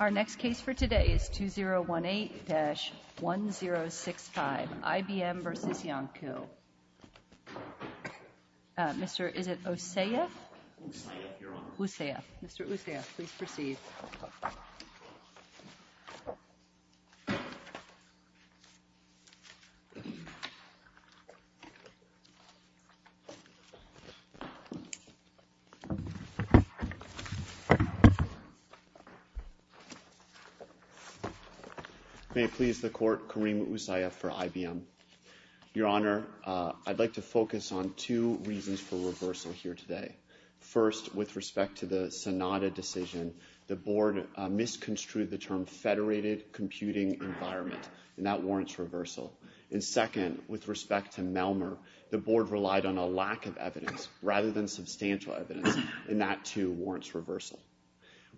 Our next case for today is 2018-1065, IBM v. Iancu. Mr. is it Osayef? Osayef, Your Honor. Osayef. Mr. Osayef, please proceed. May it please the Court, Karim Osayef for IBM. Your Honor, I'd like to focus on two reasons for reversal here today. First, with respect to the SONATA decision, the Board misconstrued the term federated computing environment and that warrants reversal. And second, with respect to Melmer, the Board relied on a lack of evidence rather than substantial evidence and that too warrants reversal.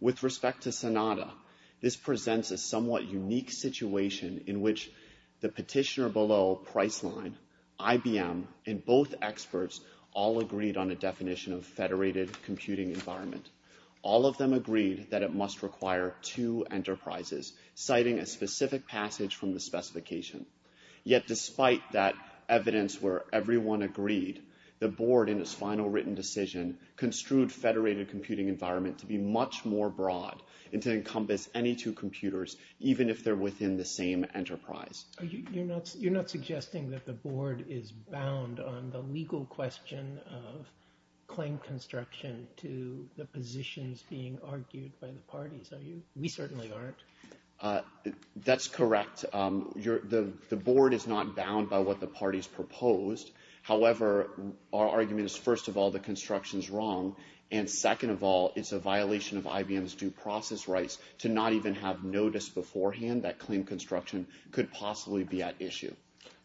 With respect to SONATA, this presents a somewhat unique situation in which the petitioner below Priceline, IBM, and both experts all agreed on a definition of federated computing environment. All of them agreed that it must require two enterprises, citing a specific passage from the specification. Yet despite that evidence where everyone agreed, the Board in its final written decision construed federated computing environment to be much more broad and to encompass any two computers even if they're within the same enterprise. You're not suggesting that the Board is bound on the legal question of claim construction to the positions being argued by the parties, are you? We certainly aren't. That's correct. The Board is not bound by what the parties proposed. However, our argument is first of all, the construction's wrong. And second of all, it's a violation of IBM's due process rights to not even have noticed beforehand that claim construction could possibly be at issue.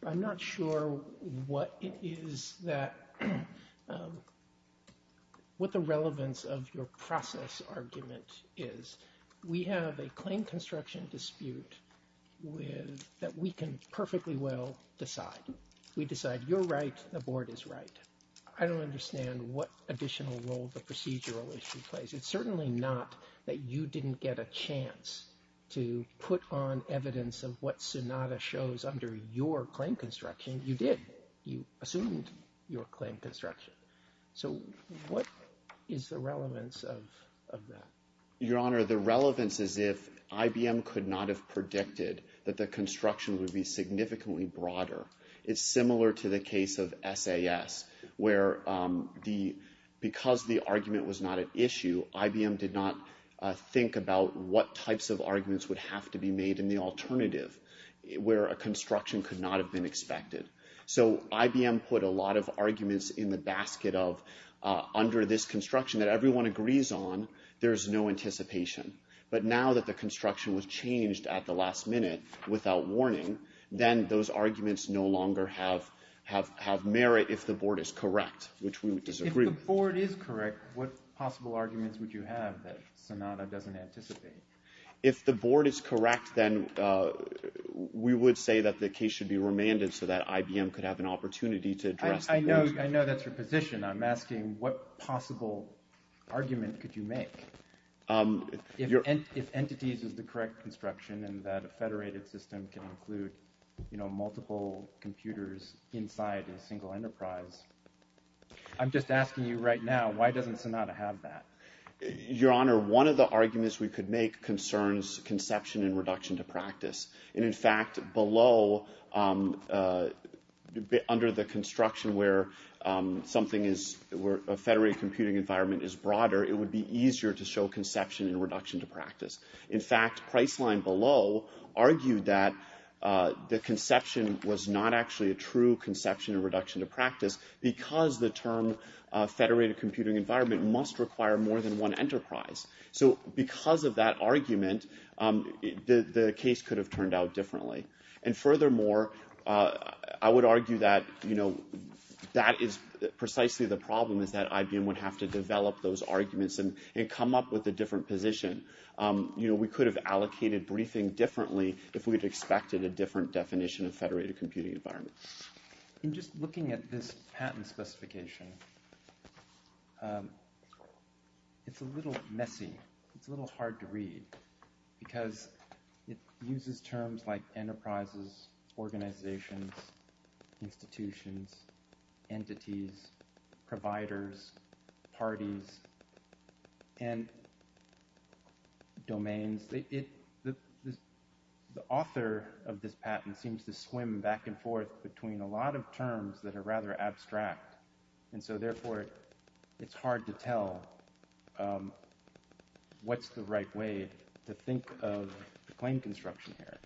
I'm not sure what it is that, what the relevance of your process argument is. We have a claim construction dispute that we can perfectly well decide. We decide you're right, the Board is right. I don't understand what additional role the You didn't get a chance to put on evidence of what SONATA shows under your claim construction. You did. You assumed your claim construction. So what is the relevance of that? Your Honor, the relevance is if IBM could not have predicted that the construction would be significantly broader. It's similar to the case of SAS where the, because the argument was not at issue, IBM did not think about what types of arguments would have to be made in the alternative, where a construction could not have been expected. So IBM put a lot of arguments in the basket of, under this construction that everyone agrees on, there's no anticipation. But now that the construction was changed at the last minute, without warning, then those arguments no longer have merit if the Board is correct, which we would disagree If the Board is correct, what possible arguments would you have that SONATA doesn't anticipate? If the Board is correct, then we would say that the case should be remanded so that IBM could have an opportunity to address those. I know that's your position. I'm asking what possible argument could you make? If entities is the correct construction and that a federated system can include, you know, multiple computers inside a single enterprise. I'm just asking you right now, why doesn't SONATA have that? Your Honor, one of the arguments we could make concerns conception and reduction to practice. And in fact, below, under the construction where something is, where a federated computing environment is broader, it would be easier to show conception and reduction to practice. In fact, Priceline below argued that the conception was not actually a true conception and reduction to practice because the term federated computing environment must require more than one enterprise. So because of that argument, the case could have turned out differently. And furthermore, I would argue that, you know, that is precisely the problem is that IBM would have to develop those arguments and come up with a different position. You know, we could have allocated briefing differently if we had expected a different definition of federated computing environment. In just looking at this patent specification, it's a little messy. It's a little hard to tell what's the right way to think of the claim construction here.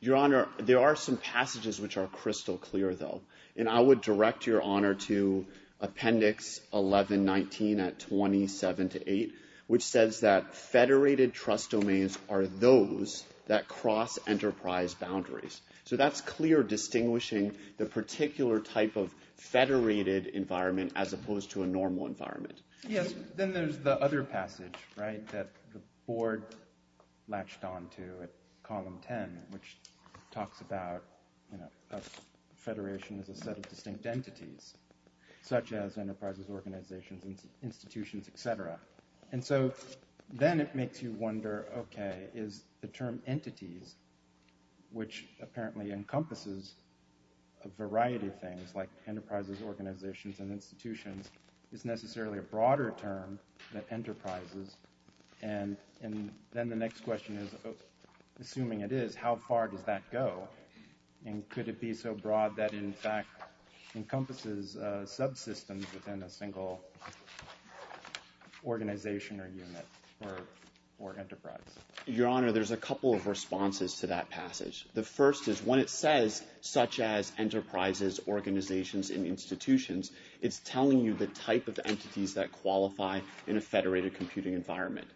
Your Honor, there are some passages which are crystal clear, though. And I would direct Your Honor to Appendix 1119 at 27 to 8, which says that federated trust domains are those that cross enterprise boundaries. So that's clear distinguishing the particular type of federated environment as opposed to a normal environment. Yes. Then there's the other passage, right, that the board latched on to at Column 10, which talks about, you know, a federation as a set of distinct entities, such as enterprises, organizations, institutions, et cetera. And so then it makes you wonder, OK, is the term entities, which apparently encompasses a variety of things like enterprises, organizations, and institutions, is necessarily a broader term than enterprises? And then the next question is, assuming it is, how far does that go? And could it be so broad that it, in fact, encompasses subsystems within a single organization or unit or enterprise? Your Honor, there's a couple of responses to that passage. The first is when it says such as enterprises, organizations, and institutions, it's telling you the type of entities that qualify in a federated computing environment.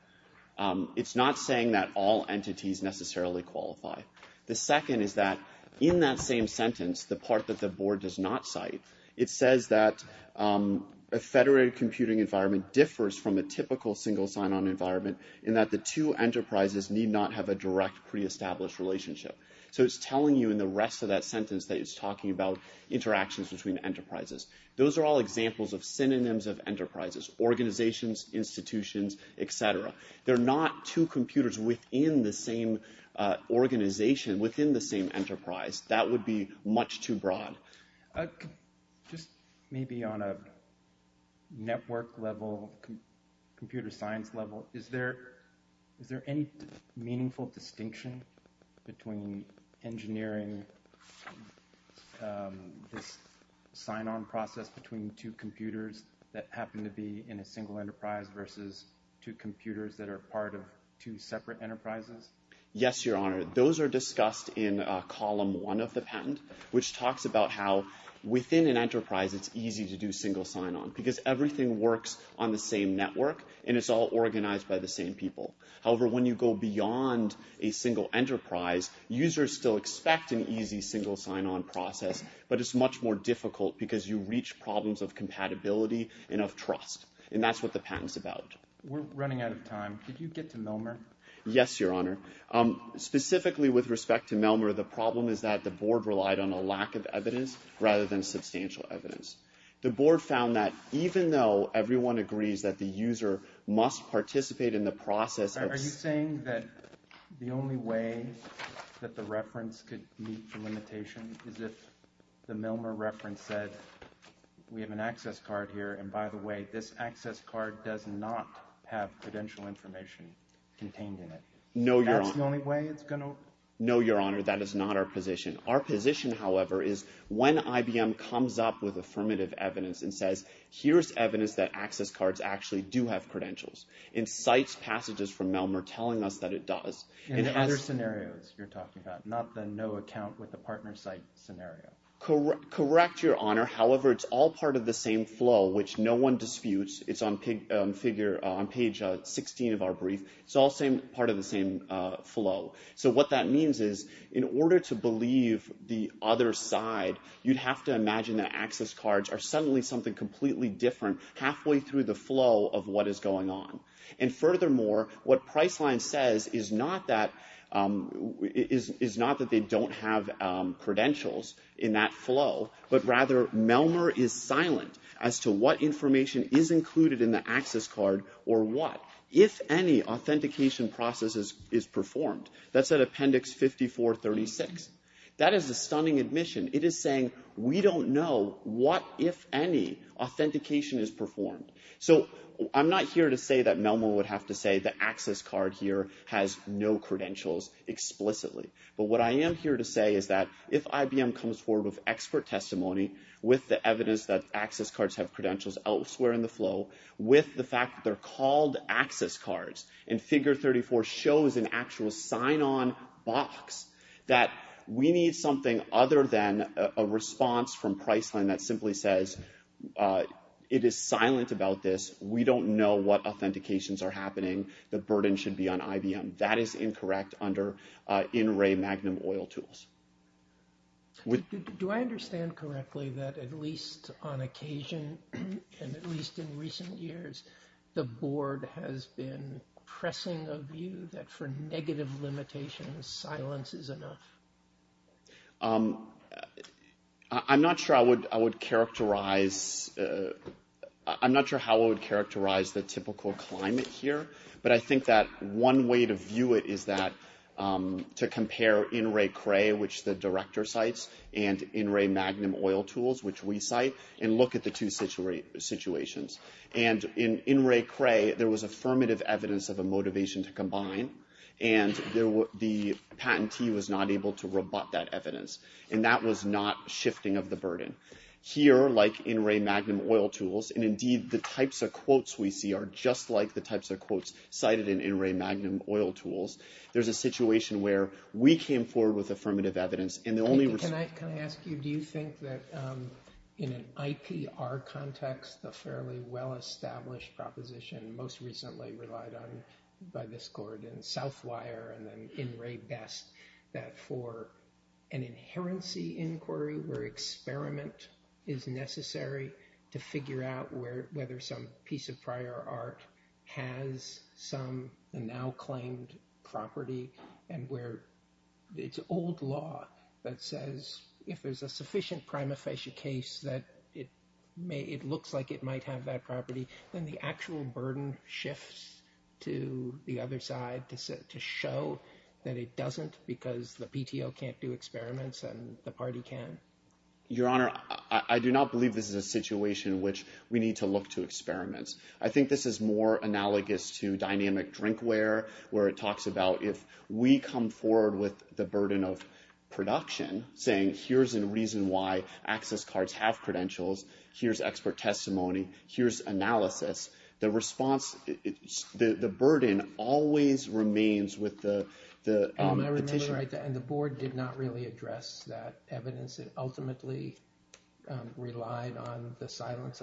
It's not saying that all entities necessarily qualify. The second is that in that same sentence, the part that the board does not cite, it says that a federated computing environment differs from a typical single sign-on environment in that the two enterprises need not have a direct pre-established relationship. So it's telling you in the rest of that sentence that it's talking about interactions between enterprises. Those are all examples of synonyms of enterprises, organizations, institutions, et cetera. They're not two computers within the same organization, within the same enterprise. That would be much too broad. Just maybe on a network level, computer science level, is there any meaningful distinction between engineering this sign-on process between two computers that happen to be in a single enterprise versus two computers that are part of two separate enterprises? Yes, Your Honor. Those are discussed in Column 1 of the patent, which talks about how within an enterprise, it's easy to do single sign-on because everything works on the same network and it's all organized by the same people. However, when you go beyond a single enterprise, users still expect an easy single sign-on process, but it's much more difficult because you reach problems of compatibility and of trust, and that's what the patent's about. We're running out of time. Could you get to Melmer? Yes, Your Honor. Specifically with respect to Melmer, the problem is that the board relied on a lack of evidence rather than substantial evidence. The board found that even though everyone agrees that the user must participate in the process of... Are you saying that the only way that the reference could meet the limitation is if the Melmer reference said, we have an access card here, and by the way, this access card does not have credential information contained in it? No, Your Honor. That's the only way it's going to... No, Your Honor. That is not our position. Our position, however, is when IBM comes up with affirmative evidence and says, here's evidence that access cards actually do have credentials, and cites passages from Melmer telling us that it does, it has... And other scenarios you're talking about, not the no account with a partner site scenario. Correct, Your Honor. However, it's all part of the same flow, which no one disputes. It's on page 16 of our brief. It's all part of the same flow. What that means is in order to believe the other side, you'd have to imagine that access cards are suddenly something completely different halfway through the flow of what is going on. And furthermore, what Priceline says is not that they don't have credentials in that flow, but rather Melmer is silent as to what information is included in the access card or what, if any authentication process is performed. That's at appendix 5436. That is a stunning admission. It is saying we don't know what, if any, authentication is performed. So I'm not here to say that Melmer would have to say the access card here has no credentials explicitly. But what I am here to say is that if IBM comes forward with expert testimony with the evidence that access cards have credentials elsewhere in the flow, with the fact that they are called access cards, and figure 34 shows an actual sign-on box, that we need something other than a response from Priceline that simply says, it is silent about this. We don't know what authentications are happening. The burden should be on IBM. That is incorrect under in-ray Magnum oil tools. Do I understand correctly that at least on occasion, and at least in recent years, the board has been pressing a view that for negative limitations, silence is enough? I'm not sure how I would characterize the typical climate here, but I think that one way to view it is to compare in-ray Cray, which the director cites, and in-ray Magnum oil tools, which we cite, and look at the two situations. And in in-ray Cray, there was affirmative evidence of a motivation to combine, and the patentee was not able to rebut that evidence. And that was not shifting of the burden. Here, like in-ray Magnum oil tools, and indeed the types of quotes we see are just like the Magnum oil tools, there's a situation where we came forward with affirmative evidence, and the only response... Can I ask you, do you think that in an IPR context, a fairly well-established proposition, most recently relied on by this board in Southwire and then in-ray Best, that for an inherency inquiry where experiment is necessary to figure out whether some piece of prior art has some now-claimed property, and where it's old law that says if there's a sufficient prima facie case that it looks like it might have that property, then the actual burden shifts to the other side to show that it doesn't because the PTO can't do experiments and the party can. Your Honor, I do not believe this is a situation which we need to look to experiments. I think this is more analogous to dynamic drinkware, where it talks about if we come forward with the burden of production, saying here's a reason why access cards have credentials, here's expert testimony, here's analysis, the response, the burden always remains with the petitioner. I remember, and the board did not really address that evidence. It ultimately relied on the silence.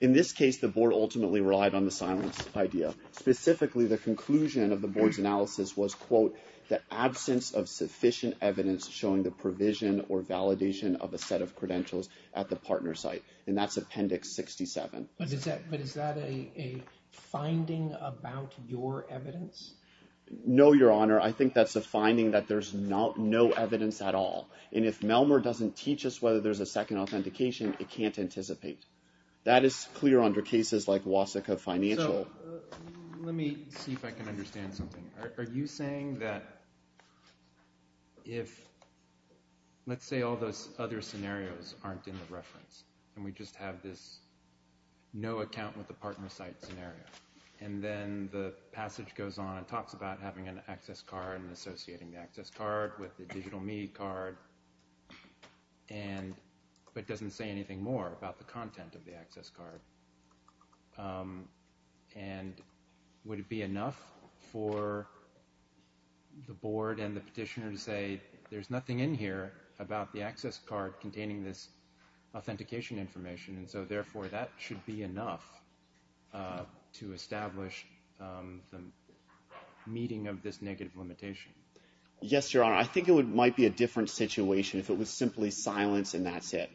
In this case, the board ultimately relied on the silence idea. Specifically, the conclusion of the board's analysis was, quote, the absence of sufficient evidence showing the provision or validation of a set of credentials at the partner site, and that's Appendix 67. But is that a finding about your evidence? No, Your Honor. I think that's a finding that there's no evidence at all, and if Melmer doesn't teach us whether there's a second authentication, it can't anticipate. That is clear under cases like Wasicka Financial. So let me see if I can understand something. Are you saying that if, let's say all those other scenarios aren't in the reference, and we just have this no account with the partner site scenario, and then the passage goes on and talks about having an access card and but doesn't say anything more about the content of the access card, and would it be enough for the board and the petitioner to say, there's nothing in here about the access card containing this authentication information, and so therefore that should be enough to establish the meeting of this negative limitation? Yes, Your Honor. I think it might be a different situation if it was simply silence and that's it.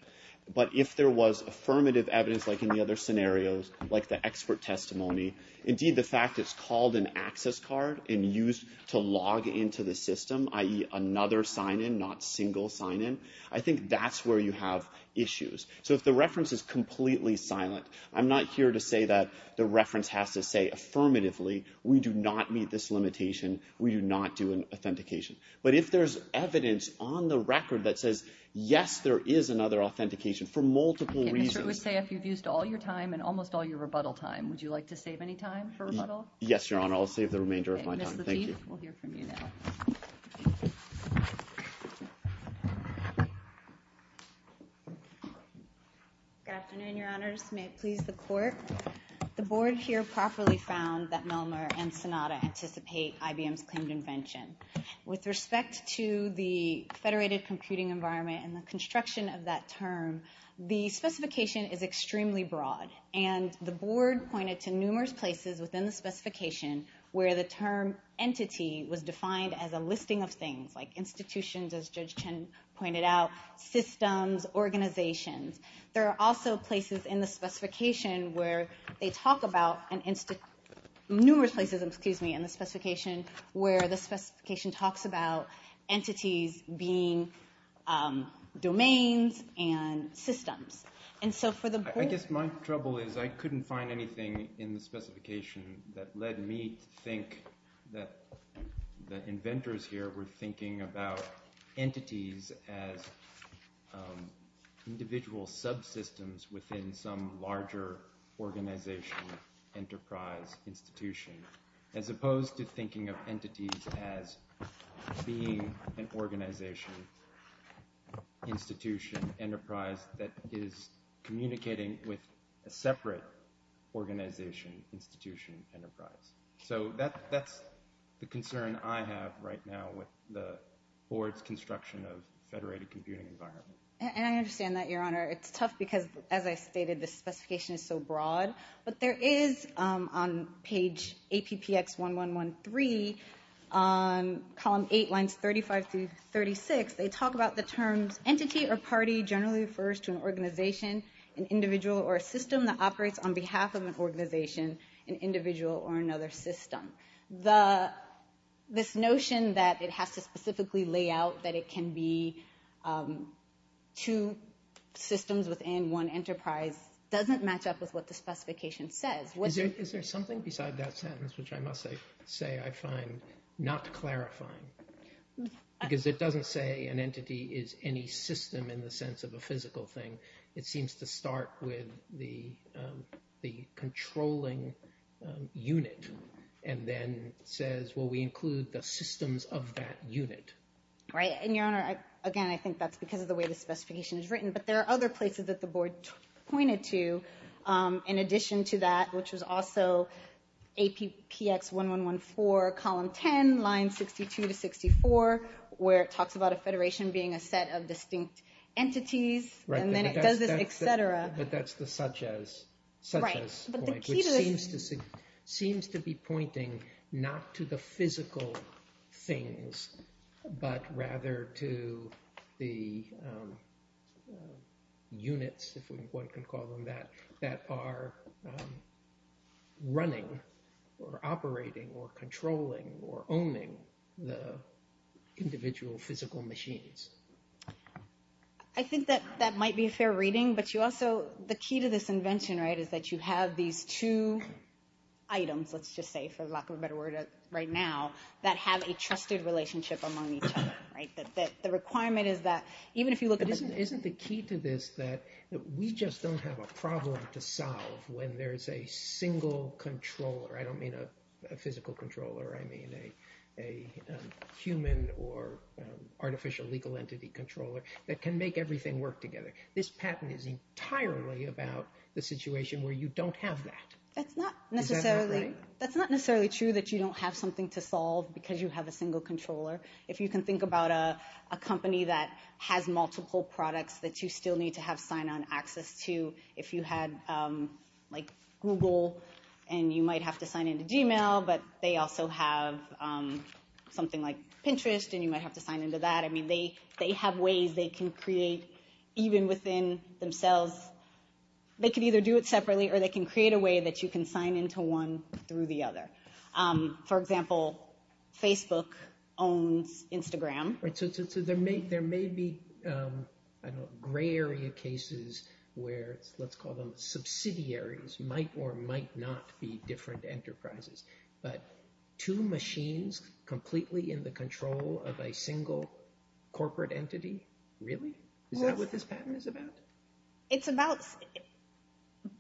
But if there was affirmative evidence like in the other scenarios, like the expert testimony, indeed the fact it's called an access card and used to log into the system, i.e. another sign-in, not single sign-in, I think that's where you have issues. So if the reference is completely silent, I'm not here to say that the reference has to say affirmatively, we do not meet this limitation, we do not do an authentication. But if there's evidence on the record that says, yes, there is another authentication for multiple reasons. Okay, Mr. Ustay, if you've used all your time and almost all your rebuttal time, would you like to save any time for rebuttal? Yes, Your Honor, I'll save the remainder of my time. Okay, Ms. Lafitte, we'll hear from you now. Good afternoon, Your Honors. May it please the Court. The Board here properly found that Milner and Sonata anticipate IBM's claimed invention. With respect to the federated computing environment and the construction of that term, the specification is extremely broad. And the Board pointed to numerous places within the specification where the term entity was defined as a listing of things, like institutions, as Judge Chen pointed out, systems, organizations. There are also places in the specification where they talk about, numerous places, excuse me, in the specification where the specification talks about entities being domains and systems. And so for the Board... I guess my trouble is I couldn't find anything in the specification that led me to think that the inventors here were thinking about entities as individual subsystems within some larger organization, enterprise, institution, as opposed to thinking of entities as being an organization, institution, enterprise that is communicating with a separate organization, institution, enterprise. So that's the concern I have right now with the Board's construction of federated computing environment. And I understand that, Your Honor. It's tough because as I stated, the specification is so broad. But there is on page APPX1113, on column 8, lines 35 through 36, they talk about the terms entity or party generally refers to an organization, an individual or a system that operates on behalf of an organization, an individual or another system. This notion that it has to specifically lay out that it can be two systems within one enterprise doesn't match up with what the specification says. Is there something beside that sentence which I must say I find not clarifying? Because it doesn't say an entity is any system in the sense of a physical thing. It seems to start with the controlling unit and then says, well, we include the systems of that unit. Right. And Your Honor, again, I think that's because of the way the specification is written. But there are other places that the Board pointed to in addition to that, which was also APPX1114, column 10, lines 62 to 64, where it talks about a federation being a set of distinct entities, and then it does this, etc. But that's the such-as point, which seems to be pointing not to the physical things, but rather to the units, if one can call them that, that are the entities. Running or operating or controlling or owning the individual physical machines. I think that that might be a fair reading, but you also, the key to this invention, right, is that you have these two items, let's just say, for lack of a better word, right now, that have a trusted relationship among each other, right? That the requirement is that even if you look at the... We just don't have a problem to solve when there's a single controller. I don't mean a physical controller, I mean a human or artificial legal entity controller that can make everything work together. This patent is entirely about the situation where you don't have that. Is that not right? That's not necessarily true that you don't have something to solve because you have a single controller. If you can think about a company that has multiple products that you still need to have sign-on access to, if you had like Google and you might have to sign into Gmail, but they also have something like Pinterest and you might have to sign into that. I mean, they have ways they can create, even within themselves, they can either do it separately or they can create a way that you can sign into one through the other. For example, Facebook owns Instagram. So there may be gray area cases where, let's call them subsidiaries, might or might not be different enterprises, but two machines completely in the control of a single corporate entity? Really? Is that what this patent is about? It's about,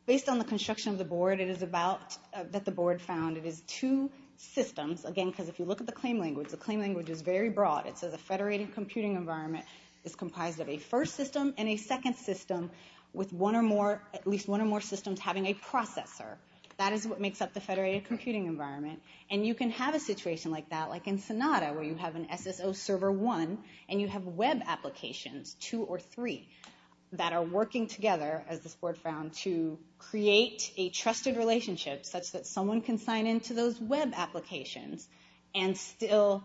based on the construction of the board, it is about, that the board found, it is two systems. Again, because if you look at the claim language, the claim language is very broad. It says a federated computing environment is comprised of a first system and a second system with one or more, at least one or more systems having a processor. That is what makes up the federated computing environment. And you can have a situation like that, like in Sonata, where you have an SSO server one and you have web applications, two or three, that are working together, as this board found, to create a trusted relationship such that someone can sign into those web applications and still,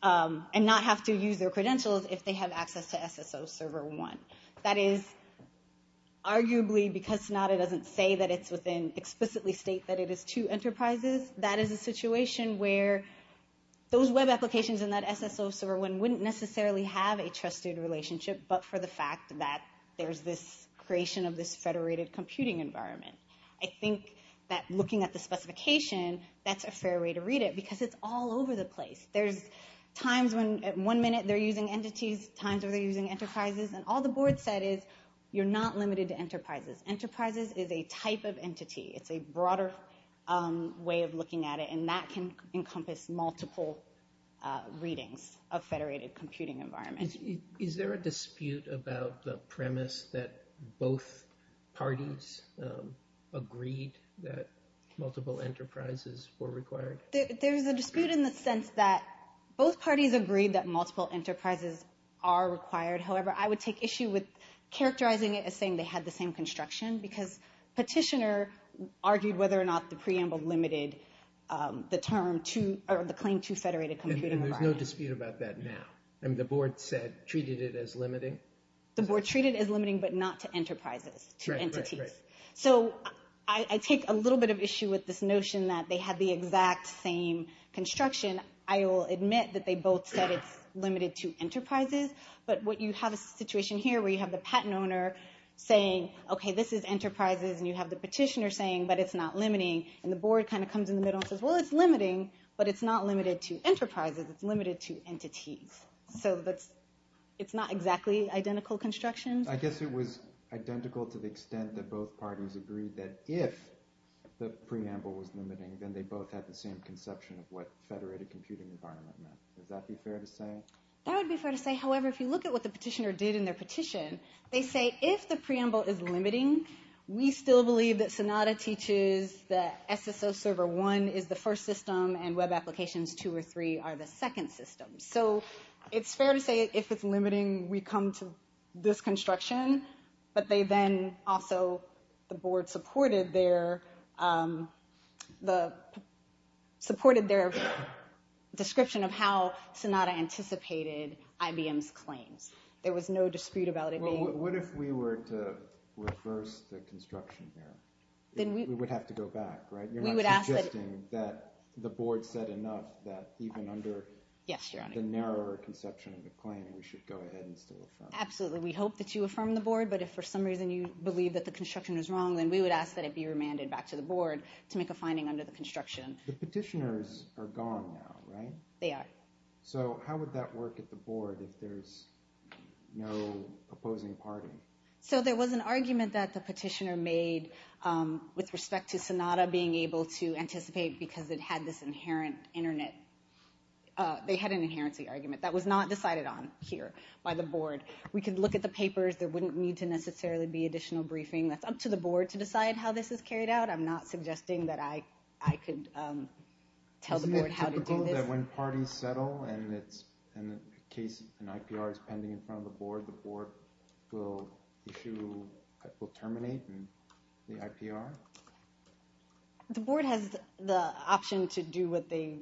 and not have to use their credentials if they have access to SSO server one. That is arguably, because Sonata doesn't say that it's within, explicitly state that it is two enterprises, that is a situation where those web applications and that SSO server one wouldn't necessarily have a trusted relationship, but for the fact that there's this creation of this federated computing environment. I think that looking at the specification, that's a fair way to read it, because it's all over the place. There's times when at one minute they're using entities, times where they're using enterprises, and all the board said is, you're not limited to enterprises. Enterprises is a type of entity. It's a broader way of looking at it, and that can encompass multiple readings of federated computing environment. Is there a dispute about the premise that both parties agreed that multiple enterprises were required? There's a dispute in the sense that both parties agreed that multiple enterprises are required. However, I would take issue with characterizing it as saying they had the same construction, because petitioner argued whether or not the preamble limited the claim to federated computing environment. There's no dispute about that now. The board said, treated it as limiting? The board treated it as limiting, but not to enterprises, to entities. I take a little bit of issue with this notion that they had the exact same construction. I will admit that they both said it's limited to enterprises, but you have a situation here where you have the patent owner saying, okay, this is enterprises, and you have the petitioner saying, but it's not limiting, and the board comes in the middle and says, well, it's limiting, but it's not limited to entities. So it's not exactly identical construction. I guess it was identical to the extent that both parties agreed that if the preamble was limiting, then they both had the same conception of what federated computing environment meant. Would that be fair to say? That would be fair to say. However, if you look at what the petitioner did in their petition, they say, if the preamble is limiting, we still believe that Sonata teaches that SSO server one is the first system, and web applications two or three are the second system. So it's fair to say if it's limiting, we come to this construction, but they then also, the board supported their description of how Sonata anticipated IBM's claims. There was no dispute about it being... Well, what if we were to reverse the construction there? We would have to go back, right? You're not suggesting that the board said enough that even under the narrower conception of the claim, we should go ahead and still affirm it? Absolutely. We hope that you affirm the board, but if for some reason you believe that the construction was wrong, then we would ask that it be remanded back to the board to make a finding under the construction. The petitioners are gone now, right? They are. So how would that work at the board if there's no opposing party? So there was an argument that the petitioner made with respect to Sonata being able to anticipate because it had this inherent internet... They had an inherent argument. That was not decided on here by the board. We could look at the papers. There wouldn't need to necessarily be additional briefing. That's up to the board to decide how this is carried out. I'm not suggesting that I could tell the board how to do this. Do you think that when parties settle and an IPR is pending in front of the board, the board will issue, will terminate the IPR? The board has the option to do what they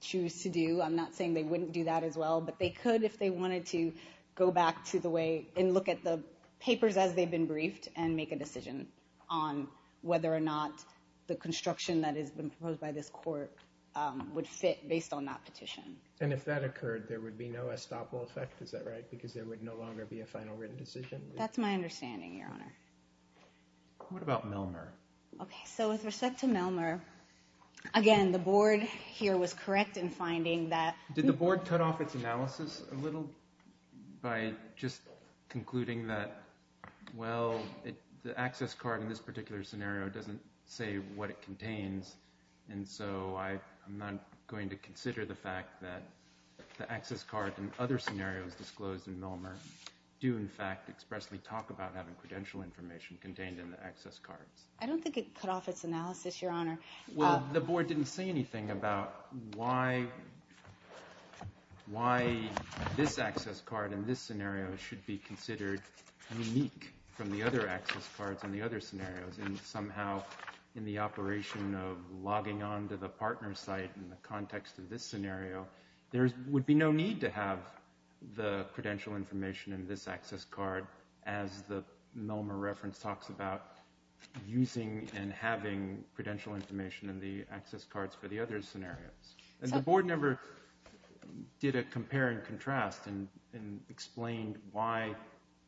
choose to do. I'm not saying they wouldn't do that as well, but they could if they wanted to go back to the way and look at the papers as they've been briefed and make a decision on whether or not the construction that has been proposed by this court would fit based on that petition. And if that occurred, there would be no estoppel effect, is that right, because there would no longer be a final written decision? That's my understanding, Your Honor. What about Melmer? Okay, so with respect to Melmer, again, the board here was correct in finding that... Did the board cut off its analysis a little by just concluding that, well, the access card in this particular scenario doesn't say what it contains, and so I'm not going to consider the fact that the access card in other scenarios disclosed in Melmer do, in fact, expressly talk about having credential information contained in the access cards. I don't think it cut off its analysis, Your Honor. Well, the board didn't say anything about why this access card in this scenario should be considered unique from the other access cards in the other scenarios, and somehow in the operation of logging on to the partner site in the context of this scenario, there would be no need to have the credential information in this access card as the Melmer reference talks about using and having credential information in the access cards for the other scenarios. And the board never did a compare and contrast and explained why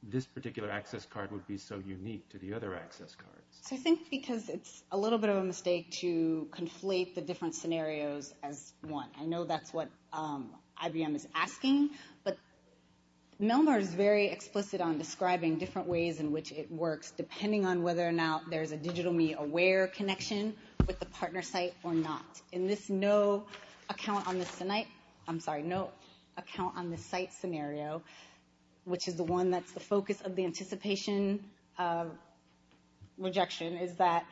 this particular access card would be so unique to the other access cards. So I think because it's a little bit of a mistake to conflate the different scenarios as one. I know that's what IBM is asking, but Melmer is very explicit on describing different ways in which it works depending on whether or not there's a Digital Me Aware connection with the partner site or not. In this no account on the site scenario, which is the one that's the focus of the anticipation rejection, is that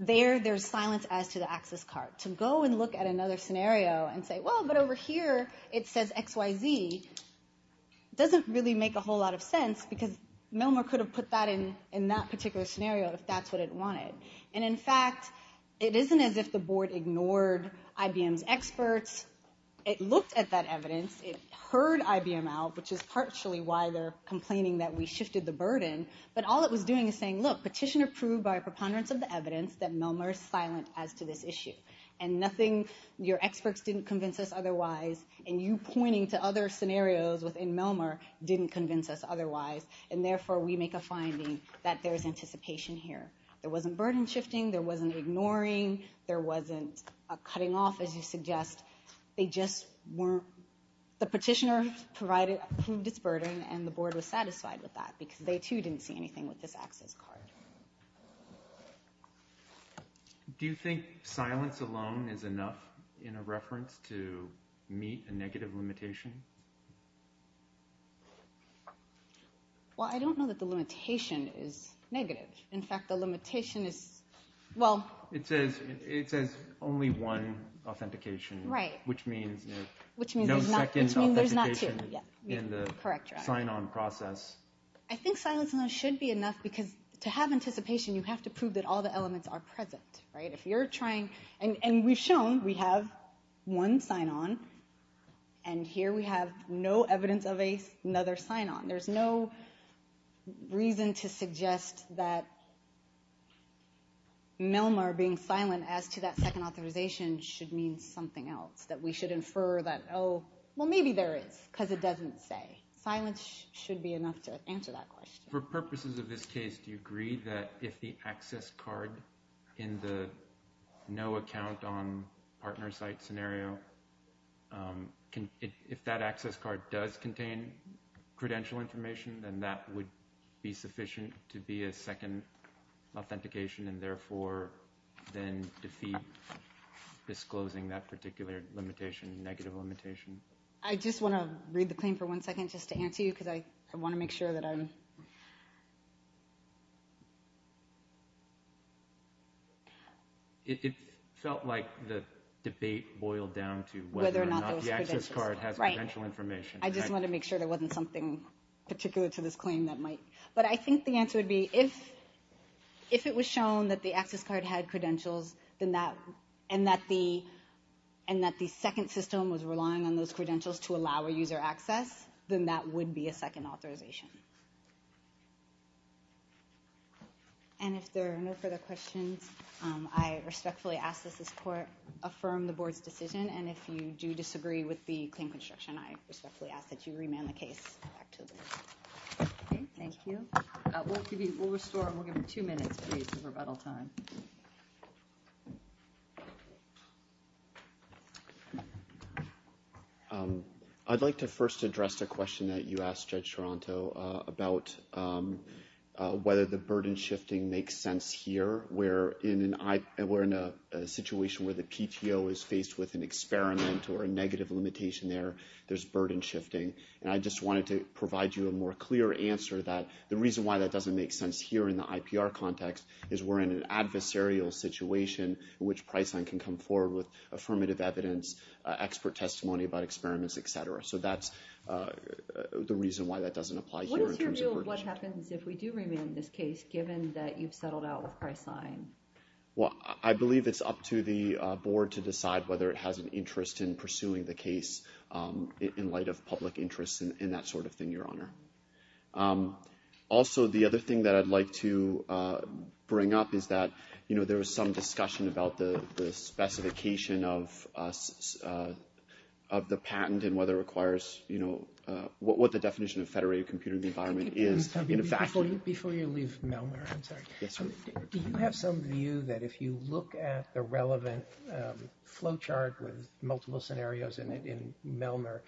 there there's silence as to the access card. To go and look at another scenario and say, well, but over here it says XYZ, doesn't really make a whole lot of sense because Melmer could have put that in that particular scenario if that's what it wanted. And in fact, it isn't as if the board ignored IBM's experts. It looked at that evidence. It heard IBM out, which is partially why they're complaining that we shifted the burden. But all it was doing is saying, look, petition approved by a preponderance of the evidence that Melmer is silent as to this issue. And nothing, your experts didn't convince us otherwise. And you pointing to other scenarios within Melmer didn't convince us otherwise. And therefore, we make a finding that there's anticipation here. There wasn't burden shifting. There wasn't ignoring. There wasn't a cutting off, as you suggest. They just weren't. The petitioner proved its burden, and the board was satisfied with that because they, too, didn't see anything with this access card. Do you think silence alone is enough in a reference to meet a negative limitation? Well, I don't know that the limitation is negative. In fact, the limitation is, well. It says only one authentication. Right. Which means there's no second authentication in the sign-on process. I think silence alone should be enough because to have anticipation, you have to prove that all the elements are present. If you're trying, and we've shown we have one sign-on, and here we have no evidence of another sign-on. There's no reason to suggest that Melmer being silent as to that second authorization should mean something else, that we should infer that, oh, well, maybe there is because it doesn't say. Silence should be enough to answer that question. For purposes of this case, do you agree that if the access card in the no account on partner site scenario, if that access card does contain credential information, then that would be sufficient to be a second authentication and therefore then defeat disclosing that particular limitation, negative limitation? I just want to read the claim for one second just to answer you because I want to make sure that I'm. It felt like the debate boiled down to whether or not the access card has credential information. I just want to make sure there wasn't something particular to this claim that might. But I think the answer would be if it was shown that the access card had credentials and that the second system was relying on those credentials to allow a user access, then that would be a second authorization. And if there are no further questions, I respectfully ask that this court affirm the board's decision. And if you do disagree with the claim construction, I respectfully ask that you remand the case back to the board. Thank you. We'll restore and we'll give you two minutes for rebuttal time. I'd like to first address the question that you asked, Judge Toronto, about whether the burden shifting makes sense here. We're in a situation where the PTO is faced with an experiment or a negative limitation there. There's burden shifting. And I just wanted to provide you a more clear answer that the reason why it doesn't make sense here in the IPR context is we're in an adversarial situation in which Priceline can come forward with affirmative evidence, expert testimony about experiments, et cetera. So that's the reason why that doesn't apply here in terms of burden shifting. What is your view of what happens if we do remand this case, given that you've settled out with Priceline? Well, I believe it's up to the board to decide whether it has an interest in pursuing the case in light of public interest and that sort of thing, Your Honor. Also, the other thing that I'd like to bring up is that, you know, there was some discussion about the specification of the patent and whether it requires, you know, what the definition of federated computing environment is. Before you leave Melnor, I'm sorry. Yes, Your Honor. Do you have some view that if you look at the relevant flow chart with multiple scenarios in it in Melnor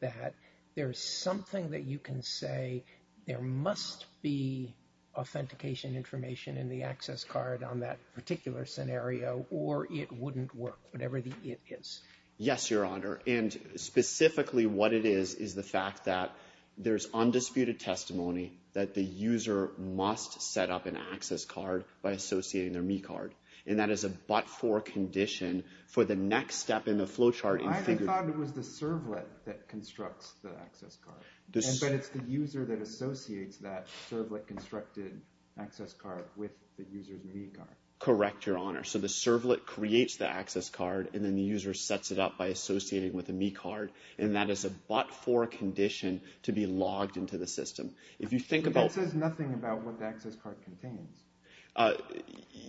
that there's something that you can say there must be authentication information in the access card on that particular scenario or it wouldn't work, whatever the it is? Yes, Your Honor. And specifically what it is is the fact that there's undisputed testimony that the user must set up an access card by associating their me card. And that is a but-for condition for the next step in the flow chart. I thought it was the servlet that constructs the access card. But it's the user that associates that servlet-constructed access card with the user's me card. Correct, Your Honor. So the servlet creates the access card and then the user sets it up by associating with the me card. And that is a but-for condition to be logged into the system. That says nothing about what the access card contains.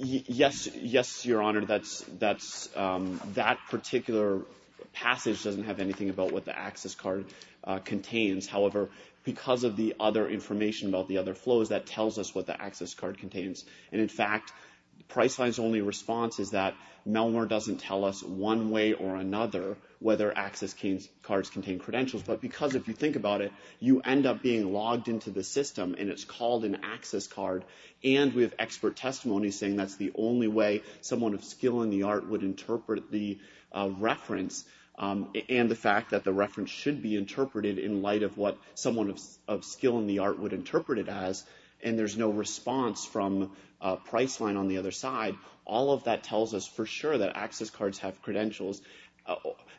Yes, Your Honor. That particular passage doesn't have anything about what the access card contains. However, because of the other information about the other flows, that tells us what the access card contains. And, in fact, Priceline's only response is that Melnor doesn't tell us one way or another whether access cards contain credentials. But because if you think about it, you end up being logged into the system and it's called an access card. And we have expert testimony saying that's the only way someone of skill in the art would interpret the reference. And the fact that the reference should be interpreted in light of what someone of skill in the art would interpret it as. And there's no response from Priceline on the other side. All of that tells us for sure that access cards have credentials.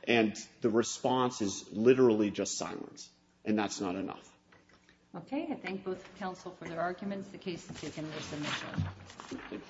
And the response is literally just silence. And that's not enough. Okay. I thank both counsel for their arguments. The case has taken their submission. Thank you.